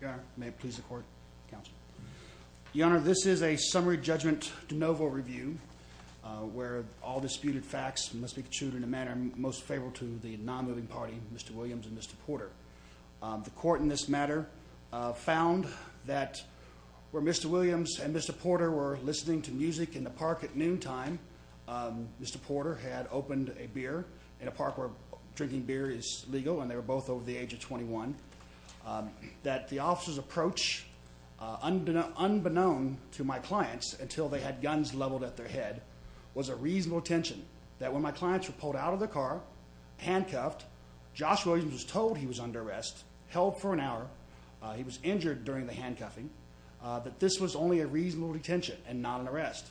Your Honor, may it please the court, counsel. Your Honor, this is a summary judgment de novo review where all disputed facts must be concluded in a manner most favorable to the non-living party, Mr. Williams and Mr. Porter. The court in this matter found that where Mr. Williams and Mr. Porter were listening to music in the park at noontime, Mr. Porter had opened a beer in a park where the age of 21, that the officer's approach, unbeknown to my clients until they had guns leveled at their head, was a reasonable attention. That when my clients were pulled out of the car, handcuffed, Josh Williams was told he was under arrest, held for an hour, he was injured during the handcuffing, that this was only a reasonable detention and not an arrest.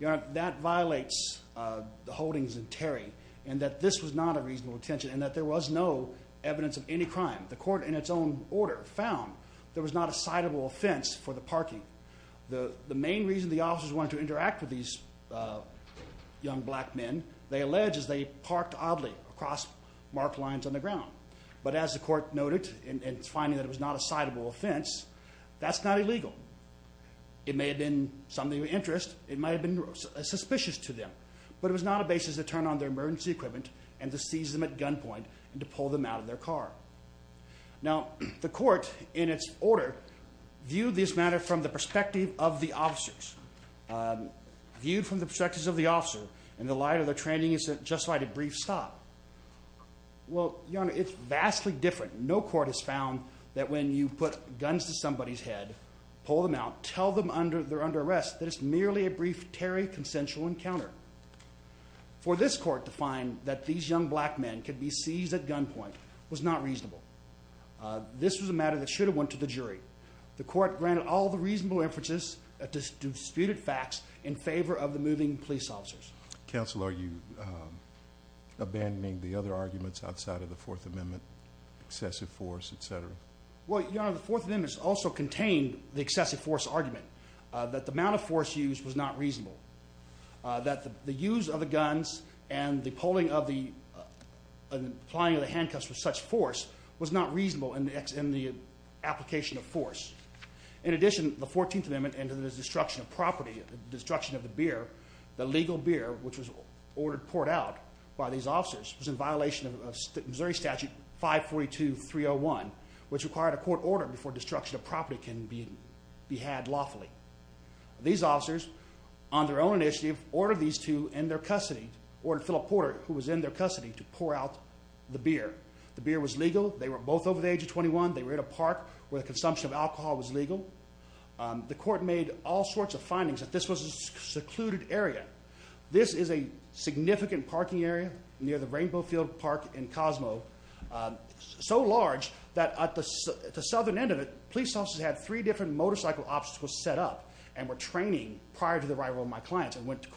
Your Honor, that violates the holdings of Terry and that this was not a reasonable detention and that there was no evidence of any crime. The court in its own order found there was not a citable offense for the parking. The main reason the officers wanted to interact with these young black men, they allege, is they parked oddly across marked lines on the ground. But as the court noted in finding that it was not a citable offense, that's not illegal. It may have been something of interest, it might have been suspicious to them, but it was not a basis to turn on their and to pull them out of their car. Now, the court in its order viewed this matter from the perspective of the officers. Viewed from the perspectives of the officer, in the light of their training, it's just like a brief stop. Well, Your Honor, it's vastly different. No court has found that when you put guns to somebody's head, pull them out, tell them they're under arrest, that it's merely a brief Terry consensual encounter. For this court to find that these young black men could be seized at gunpoint was not reasonable. This was a matter that should have went to the jury. The court granted all the reasonable inferences that disputed facts in favor of the moving police officers. Counsel, are you abandoning the other arguments outside of the Fourth Amendment, excessive force, etc.? Well, Your Honor, the Fourth Amendment also contained the excessive force argument, that the amount of force used was not reasonable. The applying of the handcuffs with such force was not reasonable in the application of force. In addition, the Fourteenth Amendment and to the destruction of property, the destruction of the beer, the legal beer, which was ordered poured out by these officers, was in violation of Missouri Statute 542-301, which required a court order before destruction of property can be had lawfully. These officers, on their own initiative, ordered these two in their custody to pour out the beer. The beer was legal. They were both over the age of 21. They were in a park where the consumption of alcohol was legal. The court made all sorts of findings that this was a secluded area. This is a significant parking area near the Rainbow Field Park in Cosmo, so large that at the southern end of it, police officers had three different motorcycle obstacles set up and were training prior to the arrival of my clients and went to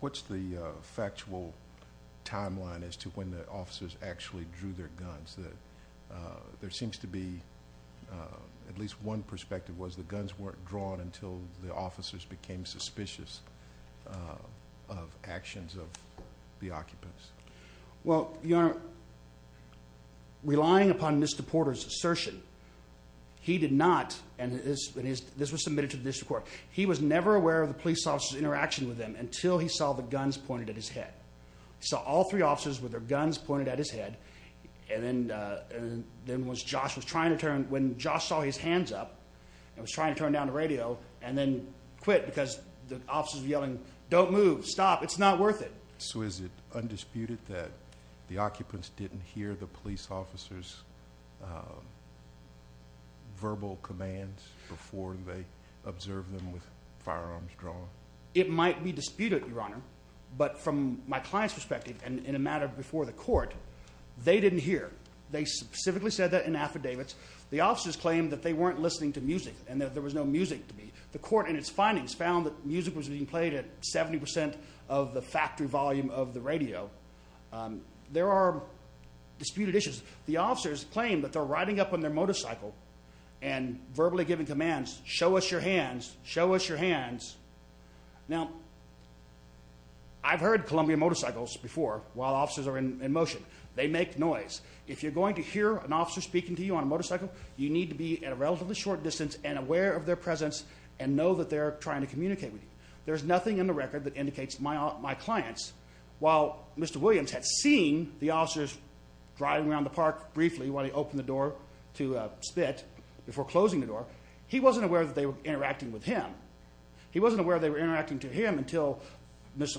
What's the factual timeline as to when the officers actually drew their guns? There seems to be at least one perspective was the guns weren't drawn until the officers became suspicious of actions of the occupants. Well, Your Honor, relying upon Mr. Porter's assertion, he did not, and this was submitted to with them until he saw the guns pointed at his head. He saw all three officers with their guns pointed at his head, and then when Josh was trying to turn, when Josh saw his hands up and was trying to turn down the radio and then quit because the officers were yelling, don't move, stop, it's not worth it. So is it undisputed that the occupants didn't hear the police officers' verbal commands before they observed them with firearms drawn? It might be disputed, Your Honor, but from my client's perspective and in a matter before the court, they didn't hear. They specifically said that in affidavits. The officers claimed that they weren't listening to music and that there was no music to be. The court in its findings found that music was being played at 70% of the factory volume of the radio. There are disputed issues. The officers claimed that they're riding up on their motorcycle and verbally giving commands, show us your hands, show us your hands. Now, I've heard Columbia Motorcycles before while officers are in motion. They make noise. If you're going to hear an officer speaking to you on a motorcycle, you need to be at a relatively short distance and aware of their presence and know that they're trying to communicate with you. There's nothing in the record that indicates my clients, while Mr. Williams had seen the spit before closing the door, he wasn't aware that they were interacting with him. He wasn't aware they were interacting to him until Mr.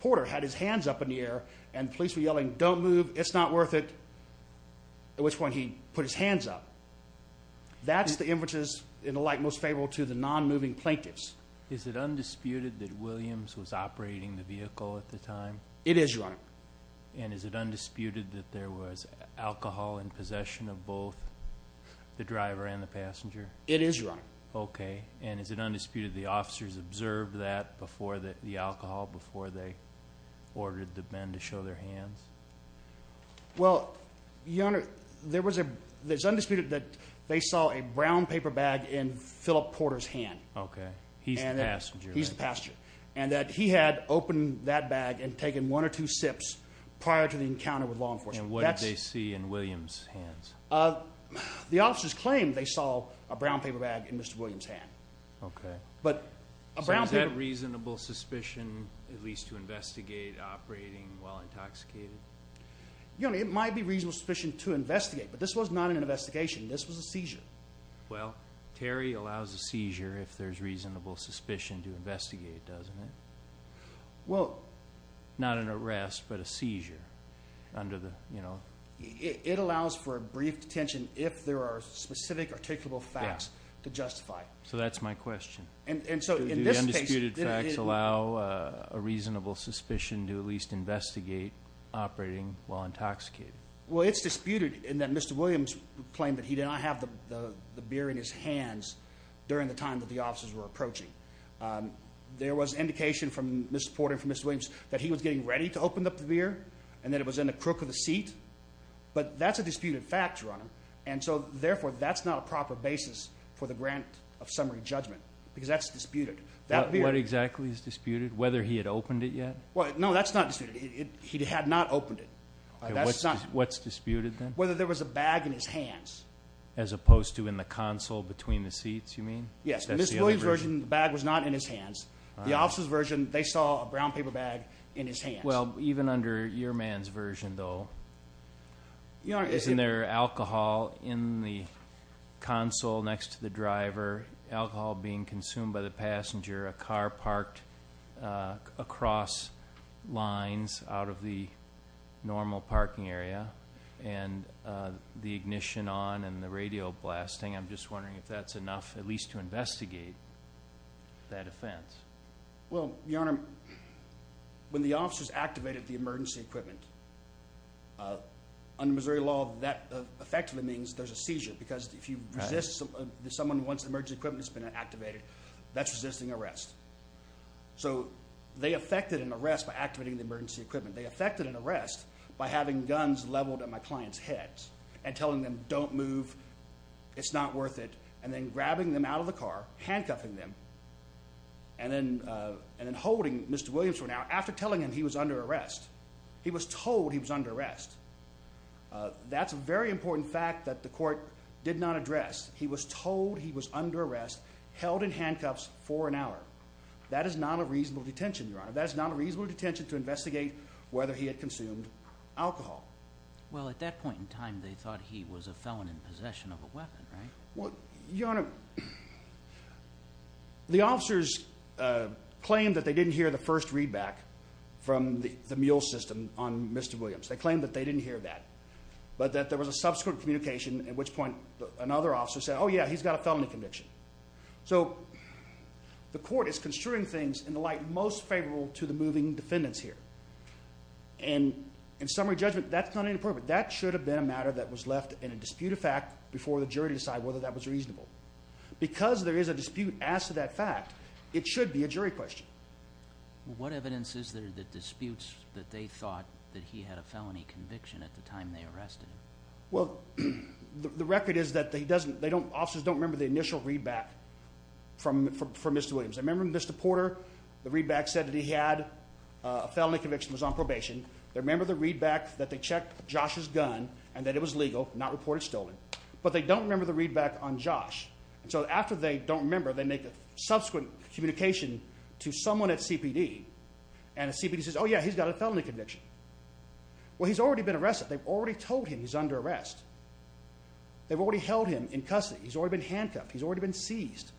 Porter had his hands up in the air and police were yelling, don't move. It's not worth it. At which point he put his hands up. That's the inferences in the light most favorable to the non moving plaintiffs. Is it undisputed that Williams was operating the vehicle at the time? It is, Your Honor. And is it undisputed that there was alcohol in possession of both the driver and the passenger? It is, Your Honor. Okay. And is it undisputed the officers observed that before the alcohol, before they ordered the men to show their hands? Well, Your Honor, there was a... It's undisputed that they saw a brown paper bag in Philip Porter's hand. Okay. He's the passenger. He's the passenger. And that he had opened that bag and taken one or two sips prior to the encounter with law enforcement. And what did they see in Williams' hands? The officers claimed they saw a brown paper bag in Mr. Williams' hand. Okay. But a brown paper... So is that reasonable suspicion, at least to investigate operating while intoxicated? Your Honor, it might be reasonable suspicion to investigate, but this was not an investigation. This was a seizure. Well, Terry allows a seizure if there's reasonable suspicion to investigate, doesn't it? Well... Not an under the... It allows for a brief detention if there are specific, articulable facts to justify. So that's my question. And so in this case... Do the undisputed facts allow a reasonable suspicion to at least investigate operating while intoxicated? Well, it's disputed in that Mr. Williams claimed that he did not have the beer in his hands during the time that the officers were approaching. There was indication from Mr. Porter and from Mr. Williams that he was getting ready to open up the beer and that it was in the crook of the seat. But that's a disputed fact, Your Honor. And so therefore, that's not a proper basis for the grant of summary judgment because that's disputed. That beer... What exactly is disputed? Whether he had opened it yet? Well, no, that's not disputed. He had not opened it. Okay. What's disputed then? Whether there was a bag in his hands. As opposed to in the console between the seats, you mean? Yes. In Mr. Williams' version, the bag was not in his hands. The officers' version, they saw a brown paper bag in his hands. Well, even under your man's version, though... Your Honor... Isn't there alcohol in the console next to the driver, alcohol being consumed by the passenger, a car parked across lines out of the normal parking area, and the ignition on and the radio blasting. I'm just wondering if that's enough, at least to investigate that offense. Well, Your Honor, when the officers activated the emergency equipment, under Missouri law, that effectively means there's a seizure because if you resist... If someone wants emergency equipment that's been activated, that's resisting arrest. So they effected an arrest by activating the emergency equipment. They effected an arrest by having guns leveled at my client's heads and telling them, don't move, it's not worth it, and then grabbing them out of the car, handcuffing them, and then holding Mr. Williams for an hour after telling him he was under arrest. He was told he was under arrest. That's a very important fact that the court did not address. He was told he was under arrest, held in handcuffs for an hour. That is not a reasonable detention, Your Honor. That is not a reasonable detention to investigate whether he had consumed alcohol. Well, at that point in time, they thought he was a felon in possession of a weapon, right? Well, Your Honor, the officers claimed that they didn't hear the first readback from the mule system on Mr. Williams. They claimed that they didn't hear that, but that there was a subsequent communication at which point another officer said, oh yeah, he's got a felony conviction. So the court is construing things in the light most favorable to the moving defendants here. And in summary judgment, that's not inappropriate. That should have been a matter that was left in a dispute of fact before the jury decide whether that was reasonable. Because there is a dispute as to that fact, it should be a jury question. What evidence is there that disputes that they thought that he had a felony conviction at the time they arrested him? Well, the record is that they don't, officers don't remember the initial readback from Mr. Williams. I remember when Mr. Porter, the readback said that he had a felony conviction, was on probation. They remember the readback that they had on Josh's gun and that it was legal, not reported stolen. But they don't remember the readback on Josh. And so after they don't remember, they make a subsequent communication to someone at CPD. And the CPD says, oh yeah, he's got a felony conviction. Well, he's already been arrested. They've already told him he's under arrest. They've already held him in custody. He's already been handcuffed. He's already been seized.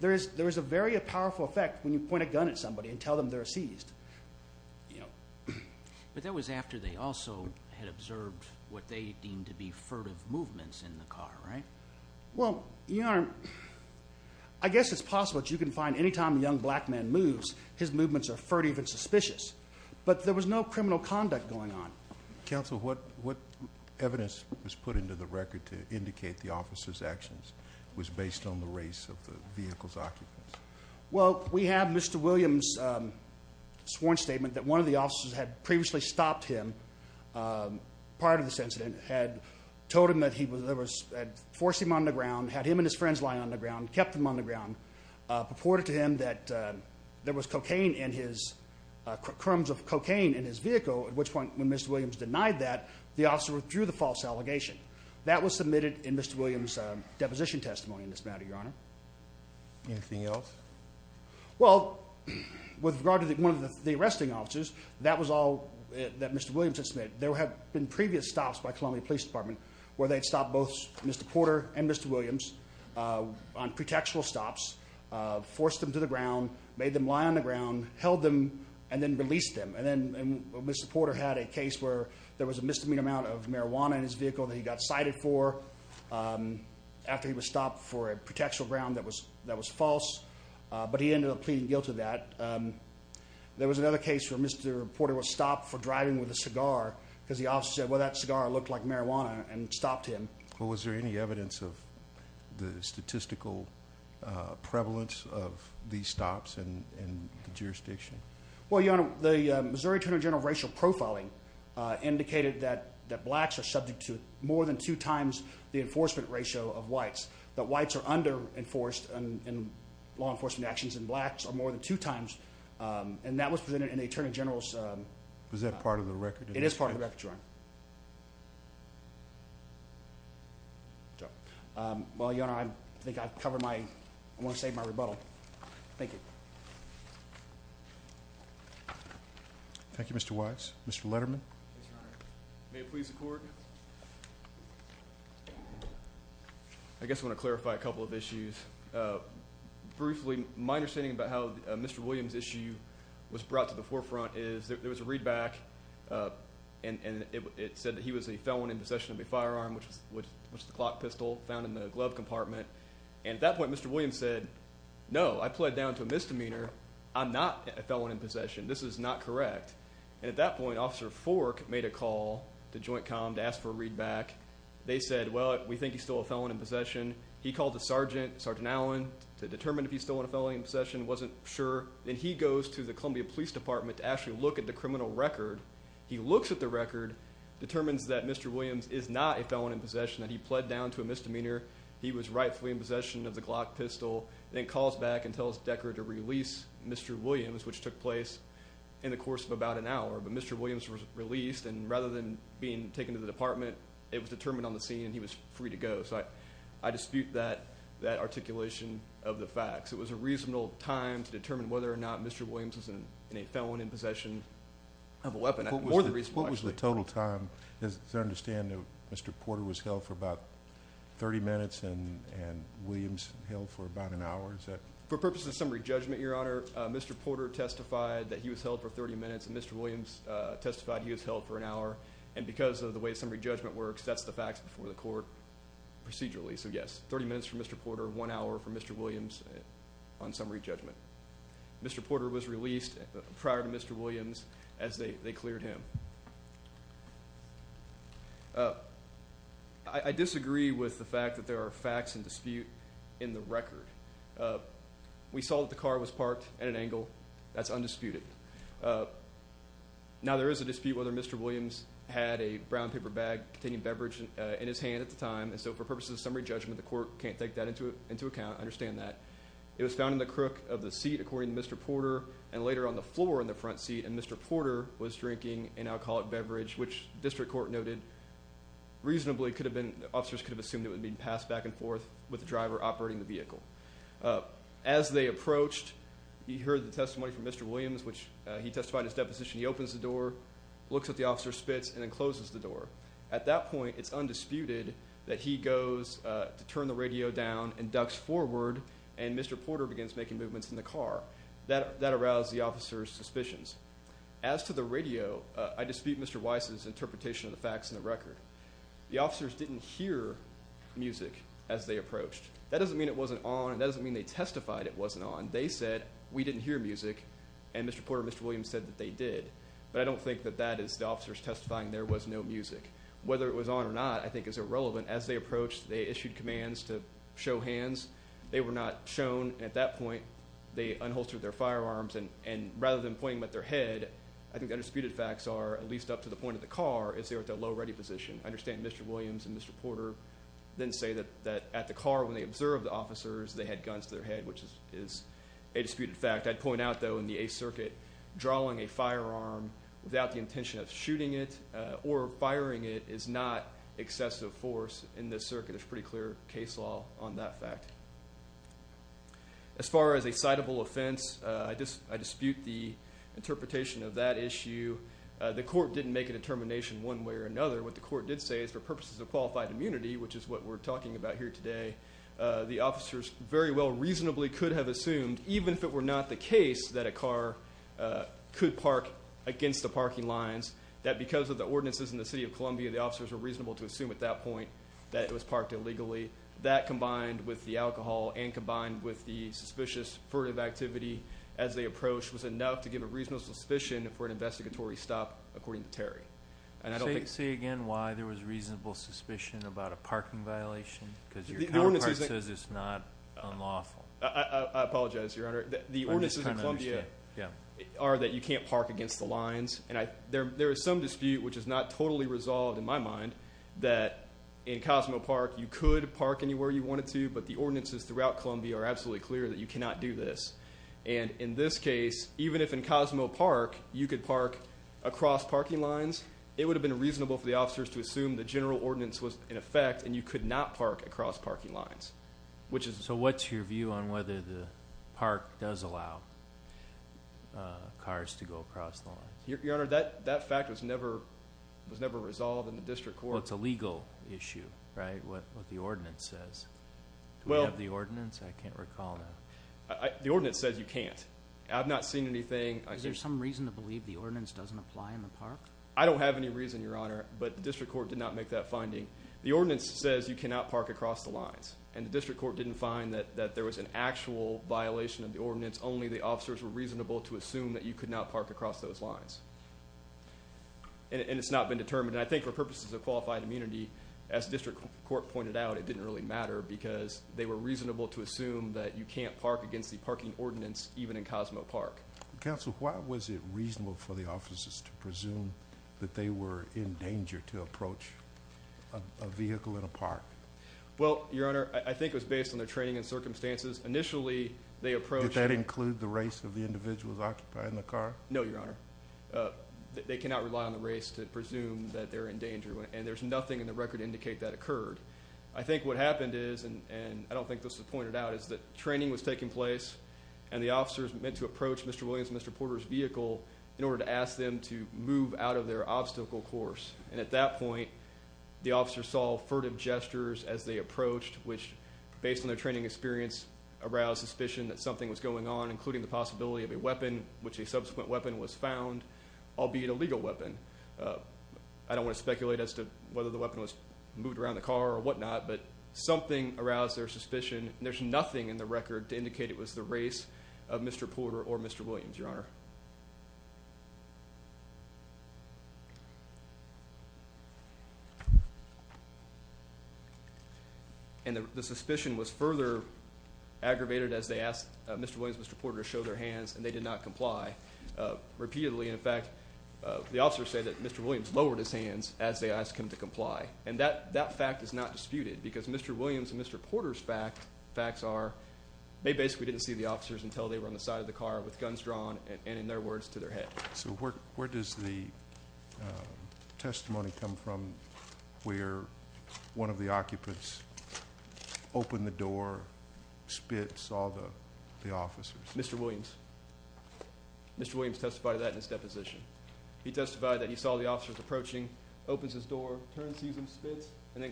There is a very powerful effect when you point a gun at somebody and tell them they're seized. Yeah. But that was after they also had observed what they deemed to be furtive movements in the car, right? Well, Your Honor, I guess it's possible that you can find anytime a young black man moves, his movements are furtive and suspicious. But there was no criminal conduct going on. Counsel, what evidence was put into the record to indicate the officer's actions was based on the race of the vehicle's occupants? Well, we have Mr. Williams sworn statement that one of the officers had previously stopped him prior to this incident, had told him that he had forced him on the ground, had him and his friends lie on the ground, kept them on the ground, purported to him that there was cocaine in his... Crumbs of cocaine in his vehicle, at which point when Mr. Williams denied that, the officer withdrew the false allegation. That was submitted in Mr. Williams' deposition testimony in this matter, Your Honor. Anything else? Well, with regard to one of the arresting officers, that was all that Mr. Williams had submitted. There have been previous stops by Columbia Police Department where they'd stopped both Mr. Porter and Mr. Williams on pretextual stops, forced them to the ground, made them lie on the ground, held them, and then released them. And then Mr. Porter had a case where there was a misdemeanor amount of marijuana in his vehicle that he got cited for after he was stopped for a pretextual ground that was false. But he ended up pleading guilt to that. There was another case where Mr. Porter was stopped for driving with a cigar because the officer said, well, that cigar looked like marijuana and stopped him. Well, was there any evidence of the statistical prevalence of these stops in the jurisdiction? Well, Your Honor, the Missouri Attorney General of Racial Profiling indicated that blacks are subject to more than two times the enforcement ratio of whites, that whites are under enforced in law enforcement actions, and blacks are more than two times. And that was presented in the Attorney General's... Was that part of the record? It is part of the record, Your Honor. Well, Your Honor, I think I've covered my... I want to save my rebuttal. Thank you. Thank you, Mr. Wise. Mr. Letterman. May it please the Court. Thank you, Your Honor. I guess I want to clarify a couple of issues. Briefly, my understanding about how Mr. Williams' issue was brought to the forefront is, there was a read back and it said that he was a felon in possession of a firearm, which was the clock pistol found in the glove compartment. And at that point, Mr. Williams said, no, I pled down to a misdemeanor. I'm not a felon in possession. This is not correct. And at that point, Officer Fork made a call to Joint Comm to ask for a read back. They said, well, we think he's still a felon in possession. He called the Sergeant, Sergeant Allen, to determine if he's still a felon in possession, wasn't sure. And he goes to the Columbia Police Department to actually look at the criminal record. He looks at the record, determines that Mr. Williams is not a felon in possession, that he pled down to a misdemeanor. He was rightfully in possession of the clock pistol, then calls back and tells Deckard to release Mr. Williams, which took place in the afternoon. Mr. Williams had been taken to the department. It was determined on the scene, and he was free to go. So I dispute that articulation of the facts. It was a reasonable time to determine whether or not Mr. Williams was a felon in possession of a weapon. More than... What was the total time? As I understand, Mr. Porter was held for about 30 minutes, and Williams held for about an hour. Is that... For purposes of summary judgment, Your Honor, Mr. Porter testified that he was held for 30 minutes, and Mr. Williams testified he was held for an hour. And because of the way the summary judgment works, that's the facts before the court procedurally. So yes, 30 minutes for Mr. Porter, one hour for Mr. Williams on summary judgment. Mr. Porter was released prior to Mr. Williams as they cleared him. I disagree with the fact that there are facts in dispute in the record. We saw that the car was parked at an angle. That's undisputed. Now, there is a dispute whether Mr. Williams had a brown paper bag containing beverage in his hand at the time. And so, for purposes of summary judgment, the court can't take that into account. I understand that. It was found in the crook of the seat, according to Mr. Porter, and later on the floor in the front seat. And Mr. Porter was drinking an alcoholic beverage, which the district court noted reasonably could have been... Officers could have assumed it would have been passed back and forth with the driver operating the vehicle. As they approached, he heard the testimony from Mr. Williams, which he testified in his deposition. He opens the door, looks at the officer's spits, and then closes the door. At that point, it's undisputed that he goes to turn the radio down and ducks forward, and Mr. Porter begins making movements in the car. That aroused the officer's suspicions. As to the radio, I dispute Mr. Weiss's interpretation of the facts in the record. The officers didn't hear music as they approached. That doesn't mean it wasn't on, and that doesn't mean they testified it wasn't on. They said, we didn't hear music, and Mr. Porter and Mr. Williams said that they did. But I don't think that that is the officers testifying there was no music. Whether it was on or not, I think is irrelevant. As they approached, they issued commands to show hands. They were not shown, and at that point, they unholstered their firearms. And rather than pointing them at their head, I think the undisputed facts are, at least up to the point of the car, is they were at the low ready position. I understand Mr. Williams and Mr. Porter didn't say that at the car, when they observed the officers, they had guns to their head, which is a disputed fact. I'd point out, though, in the Eighth Circuit, drawing a firearm without the intention of shooting it or firing it is not excessive force in this circuit. There's pretty clear case law on that fact. As far as a citable offense, I dispute the interpretation of that issue. The court didn't make a determination one way or another. What the court did say is, for purposes of qualified immunity, which is what we're talking about here today, the officers very well reasonably could have assumed, even if it were not the case that a car could park against the parking lines, that because of the ordinances in the city of Columbia, the officers were reasonable to assume at that point that it was parked illegally. That combined with the alcohol and combined with the suspicious furtive activity as they approached was enough to give a reasonable suspicion for an investigatory stop, according to Terry. And I don't think... Say again why there was a reasonable suspicion about a parking violation, because your counterpart says it's not unlawful. I apologize, Your Honor. The ordinances in Columbia are that you can't park against the lines. And there is some dispute which is not totally resolved, in my mind, that in Cosmo Park, you could park anywhere you wanted to, but the ordinances throughout Columbia are absolutely clear that you cannot do this. And in this case, even if in Cosmo Park, you could park across parking lines, it would have been reasonable for the officers to assume the general ordinance was in effect, and you could not park across parking lines, which is... So what's your view on whether the park does allow cars to go across the lines? Your Honor, that fact was never resolved in the district court. Well, it's a legal issue, right? What the ordinance says. Well... Do we have the ordinance? I can't recall now. The ordinance says you can't. I've not seen anything... Is there some reason to believe the ordinance doesn't apply in the park? I don't have any reason, Your Honor, but the district court did not make that finding. The ordinance says you cannot park across the lines, and the district court didn't find that there was an actual violation of the ordinance, only the officers were reasonable to assume that you could not park across those lines. And it's not been determined. And I think for purposes of qualified immunity, as district court pointed out, it didn't really matter because they were reasonable to assume that you can't park against the parking ordinance, even in Cosmo Park. Counsel, why was it reasonable for the officers to presume that they were in danger to approach a vehicle in a park? Well, Your Honor, I think it was based on their training and circumstances. Initially, they approached... Did that include the race of the individuals occupying the car? No, Your Honor. They cannot rely on the race to presume that they're in danger, and there's nothing in the record to indicate that occurred. I think what happened is, and I don't think this was pointed out, is that training was taking place, and the officers meant to approach Mr. Williams and Mr. Porter's vehicle in order to ask them to move out of their obstacle course. And at that point, the officers saw furtive gestures as they approached, which, based on their training experience, aroused suspicion that something was going on, including the possibility of a weapon, which a subsequent weapon was found, albeit a legal weapon. I don't want to speculate as to whether the weapon was moved around the car or whatnot, but something aroused their suspicion, and there's nothing in the record to indicate it was the race of Mr. Porter or Mr. Williams, Your Honor. And the suspicion was further aggravated as they asked Mr. Williams and Mr. Porter to show their hands, and they did not comply. Repeatedly, in fact, the officers said that Mr. Williams lowered his hands as they asked him to comply. And that fact is not disputed, because Mr. Williams and Mr. Porter's facts are, they basically didn't see the officers until they were on the side of the car with guns drawn and, in their words, to their head. So where does the testimony come from where one of the occupants opened the door, spits all the officers? Mr. Williams. Mr. Williams testified to that in his deposition. He testified that he saw the officers approaching, opens his door, turns, sees him, spits, and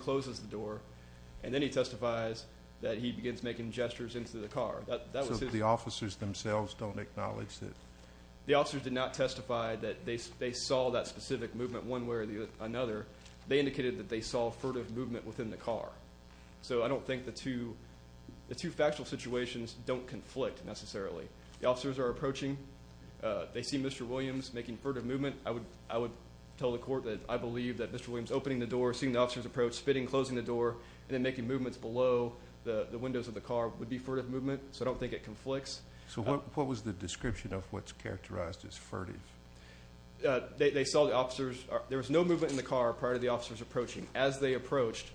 then he testifies that he begins making gestures into the car. So the officers themselves don't acknowledge that? The officers did not testify that they saw that specific movement one way or another. They indicated that they saw furtive movement within the car. So I don't think the two factual situations don't conflict, necessarily. The officers are approaching. They see Mr. Williams making furtive movement. I would tell the court that I believe that Mr. Williams opening the door, seeing the officers approach, spitting, closing the door, and then making movements below the windows of the car would be furtive movement. So I don't think it conflicts. So what was the description of what's characterized as furtive? They saw the officers... There was no movement in the car prior to the officers approaching. As they approached,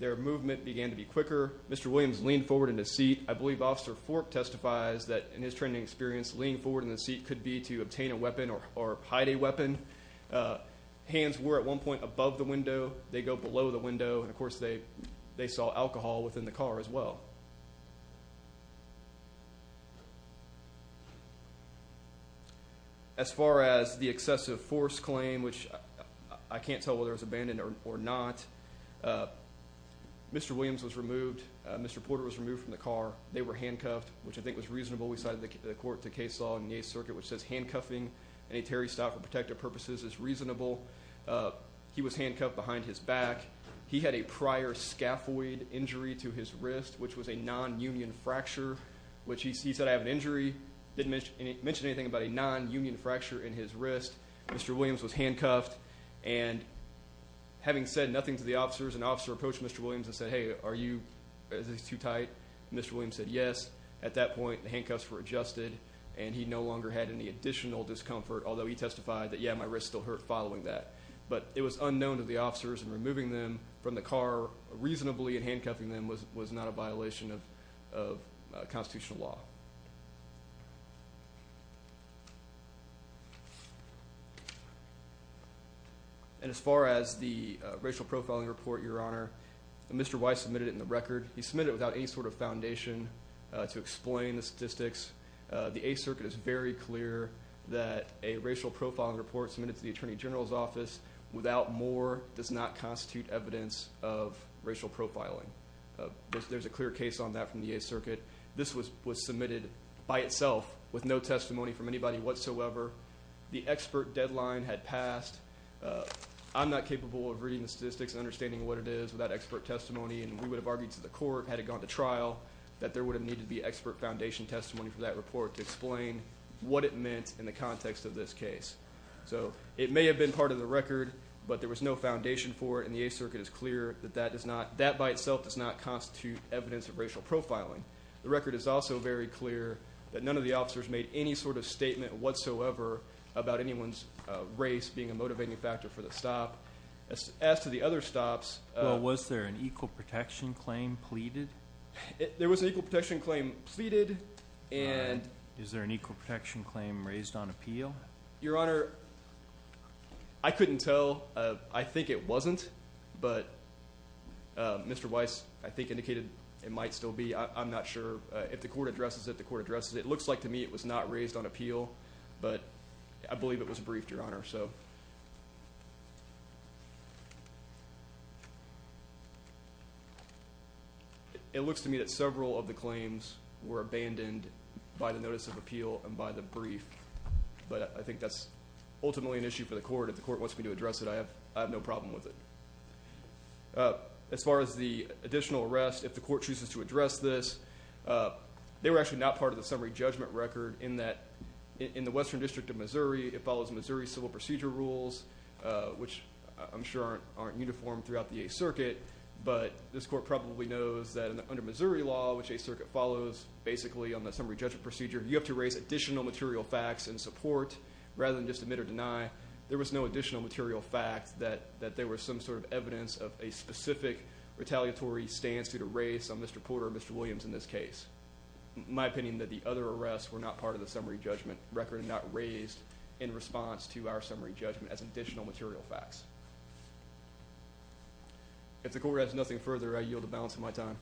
their movement began to be quicker. Mr. Williams leaned forward in his seat. I believe Officer Fork testifies that, in his training experience, leaning forward in the seat could be to obtain a weapon or hide a weapon. Hands were, at one point, above the window. They go below the window. And, of course, they saw alcohol within the car as well. As far as the excessive force claim, which I can't tell whether it was abandoned or not, Mr. Williams was removed. Mr. Porter was removed from the car. They were handcuffed, which I think was reasonable. We cited the court to case law in the Eighth Circuit, which says, handcuffing an interior stop for protective purposes is reasonable. He was handcuffed behind his back. He had a prior scaphoid injury to his wrist, which was a non-union fracture, which he said, I have an injury. Didn't mention anything about a non-union fracture in his wrist. Mr. Williams was handcuffed. And having said nothing to the officers, an officer approached Mr. Williams and said, Hey, are you... Is this too tight? Mr. Williams said, Yes. At that point, the handcuffs were adjusted and he no longer had any additional discomfort, although he testified that, Yeah, my wrist still hurt following that. But it was unknown to the officers and removing them from the car reasonably and handcuffing them was not a violation of constitutional law. And as far as the racial profiling report, Your Honor, Mr. Weiss submitted it in the record. He submitted it without any sort of foundation to explain the statistics. The Eighth Circuit is very clear that a racial profiling report submitted to the Attorney General's Office without more does not constitute evidence of racial profiling. There's a clear case on that from the Eighth Circuit. This was submitted by itself with no testimony from anybody whatsoever. The expert deadline had passed. I'm not capable of reading the statistics and understanding what it is without expert testimony. And we would have argued to the court, had it gone to trial, that there would have needed the expert foundation testimony for that report to explain what it meant in the context of this case. So it may have been part of the record, but there was no foundation for it. And the Eighth Circuit is clear that that by itself does not constitute evidence of racial profiling. The record is also very clear that none of the officers made any sort of statement whatsoever about anyone's race being a motivating factor for the stop. As to the other stops... Well, was there an equal protection claim pleaded? There was an equal protection claim pleaded, and... Is there an equal protection claim raised on appeal? Your Honor, I couldn't tell. I think it wasn't, but Mr. Weiss, I think, indicated it might still be. I'm not sure. If the court addresses it, the court addresses it. It looks like to me it was not raised on appeal, but I believe it was raised on appeal. It looks to me that several of the claims were abandoned by the notice of appeal and by the brief, but I think that's ultimately an issue for the court. If the court wants me to address it, I have no problem with it. As far as the additional arrest, if the court chooses to address this, they were actually not part of the summary judgment record in that in the Western District of Missouri, it follows Missouri civil procedure rules, which I'm sure aren't uniform throughout the Eighth Circuit, but this court probably knows that under Missouri law, which Eighth Circuit follows basically on the summary judgment procedure, you have to raise additional material facts and support rather than just admit or deny. There was no additional material fact that there was some sort of evidence of a specific retaliatory stance due to race on Mr. Porter or Mr. Williams in this case. My opinion that the other arrests were not part of the summary judgment record and not raised in response to our summary judgment as additional material facts. If the court has nothing further, I yield the balance of my time.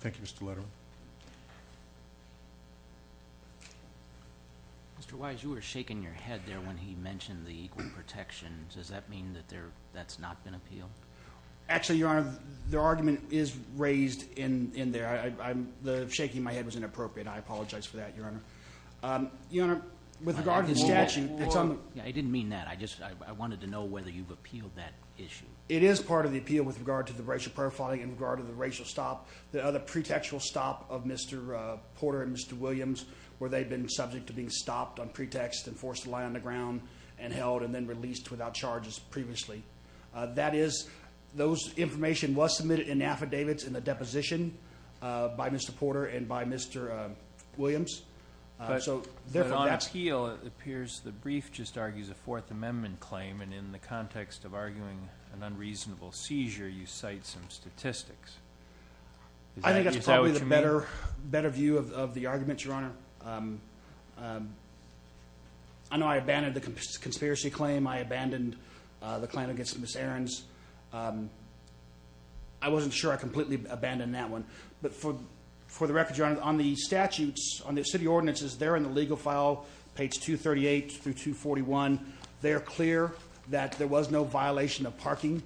Thank you, Mr. Letterman. Mr. Wise, you were shaking your head there when he mentioned the equal protections. Does that mean that that's not been appealed? Actually, Your Honor, the argument is raised in there. The shaking of my head was inappropriate. I apologize for that, Your Honor. Your Honor, with regard to the statute, it's on the... I didn't mean that. I just... I didn't know whether you've appealed that issue. It is part of the appeal with regard to the racial profiling in regard to the racial stop, the other pretextual stop of Mr. Porter and Mr. Williams where they've been subject to being stopped on pretext and forced to lie on the ground and held and then released without charges previously. That is... Those information was submitted in affidavits in the deposition by Mr. Porter and by Mr. Williams. But on appeal, it appears the brief just argues a Fourth Amendment claim and in the context of arguing an unreasonable seizure, you cite some statistics. I think that's probably the better view of the argument, Your Honor. I know I abandoned the conspiracy claim. I abandoned the claim against Ms. Ahrens. I wasn't sure I completely abandoned that one. But for the record, Your Honor, on the statutes, on the city ordinances, they're in the legal file, page 238 through 241. They're clear that there was no violation of parking.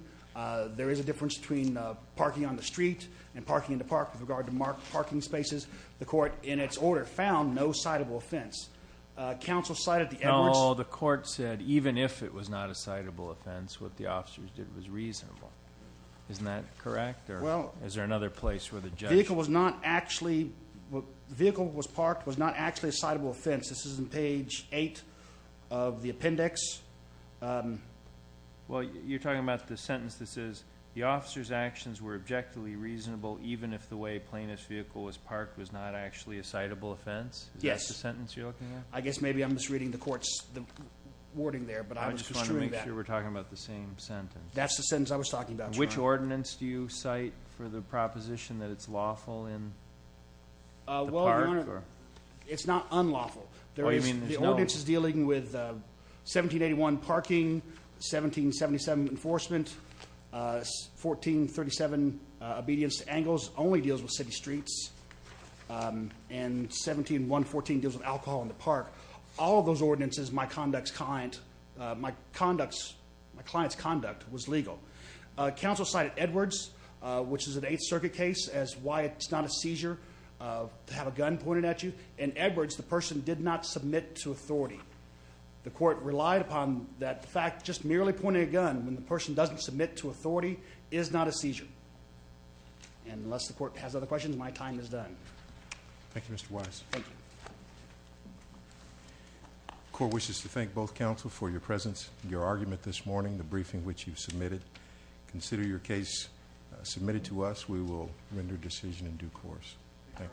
There is a difference between parking on the street and parking in the park with regard to marked parking spaces. The court, in its order, found no citable offense. Counsel cited the Edwards... No, the court said even if it was not a citable offense, what the officers did was reasonable. Isn't that correct or is there another place where the judge... The vehicle was parked was not actually a citable offense. This is in page eight of the appendix. Well, you're talking about the sentence that says the officer's actions were objectively reasonable even if the way a plaintiff's vehicle was parked was not actually a citable offense. Is that the sentence you're looking at? Yes. I guess maybe I'm misreading the court's wording there. I just want to make sure we're talking about the same sentence. That's the sentence I was talking about, Your Honor. Which ordinance do you cite for the proposition that it's lawful in the Well, Your Honor, it's not unlawful. The ordinance is dealing with 1781 parking, 1777 enforcement, 1437 obedience to angles, only deals with city streets, and 17114 deals with alcohol in the park. All of those ordinances, my conduct's client... My client's conduct was legal. Counsel cited Edwards, which is an Eighth Circuit case, as why it's not a seizure to have a gun pointed at you. In Edwards, the person did not submit to authority. The court relied upon that fact, just merely pointing a gun when the person doesn't submit to authority is not a seizure. And unless the court has other questions, my time is done. Thank you, Mr. Wise. Thank you. The court wishes to thank both counsel for your presence, your argument this evening. Consider your case submitted to us. We will render decision in due course. Thank you.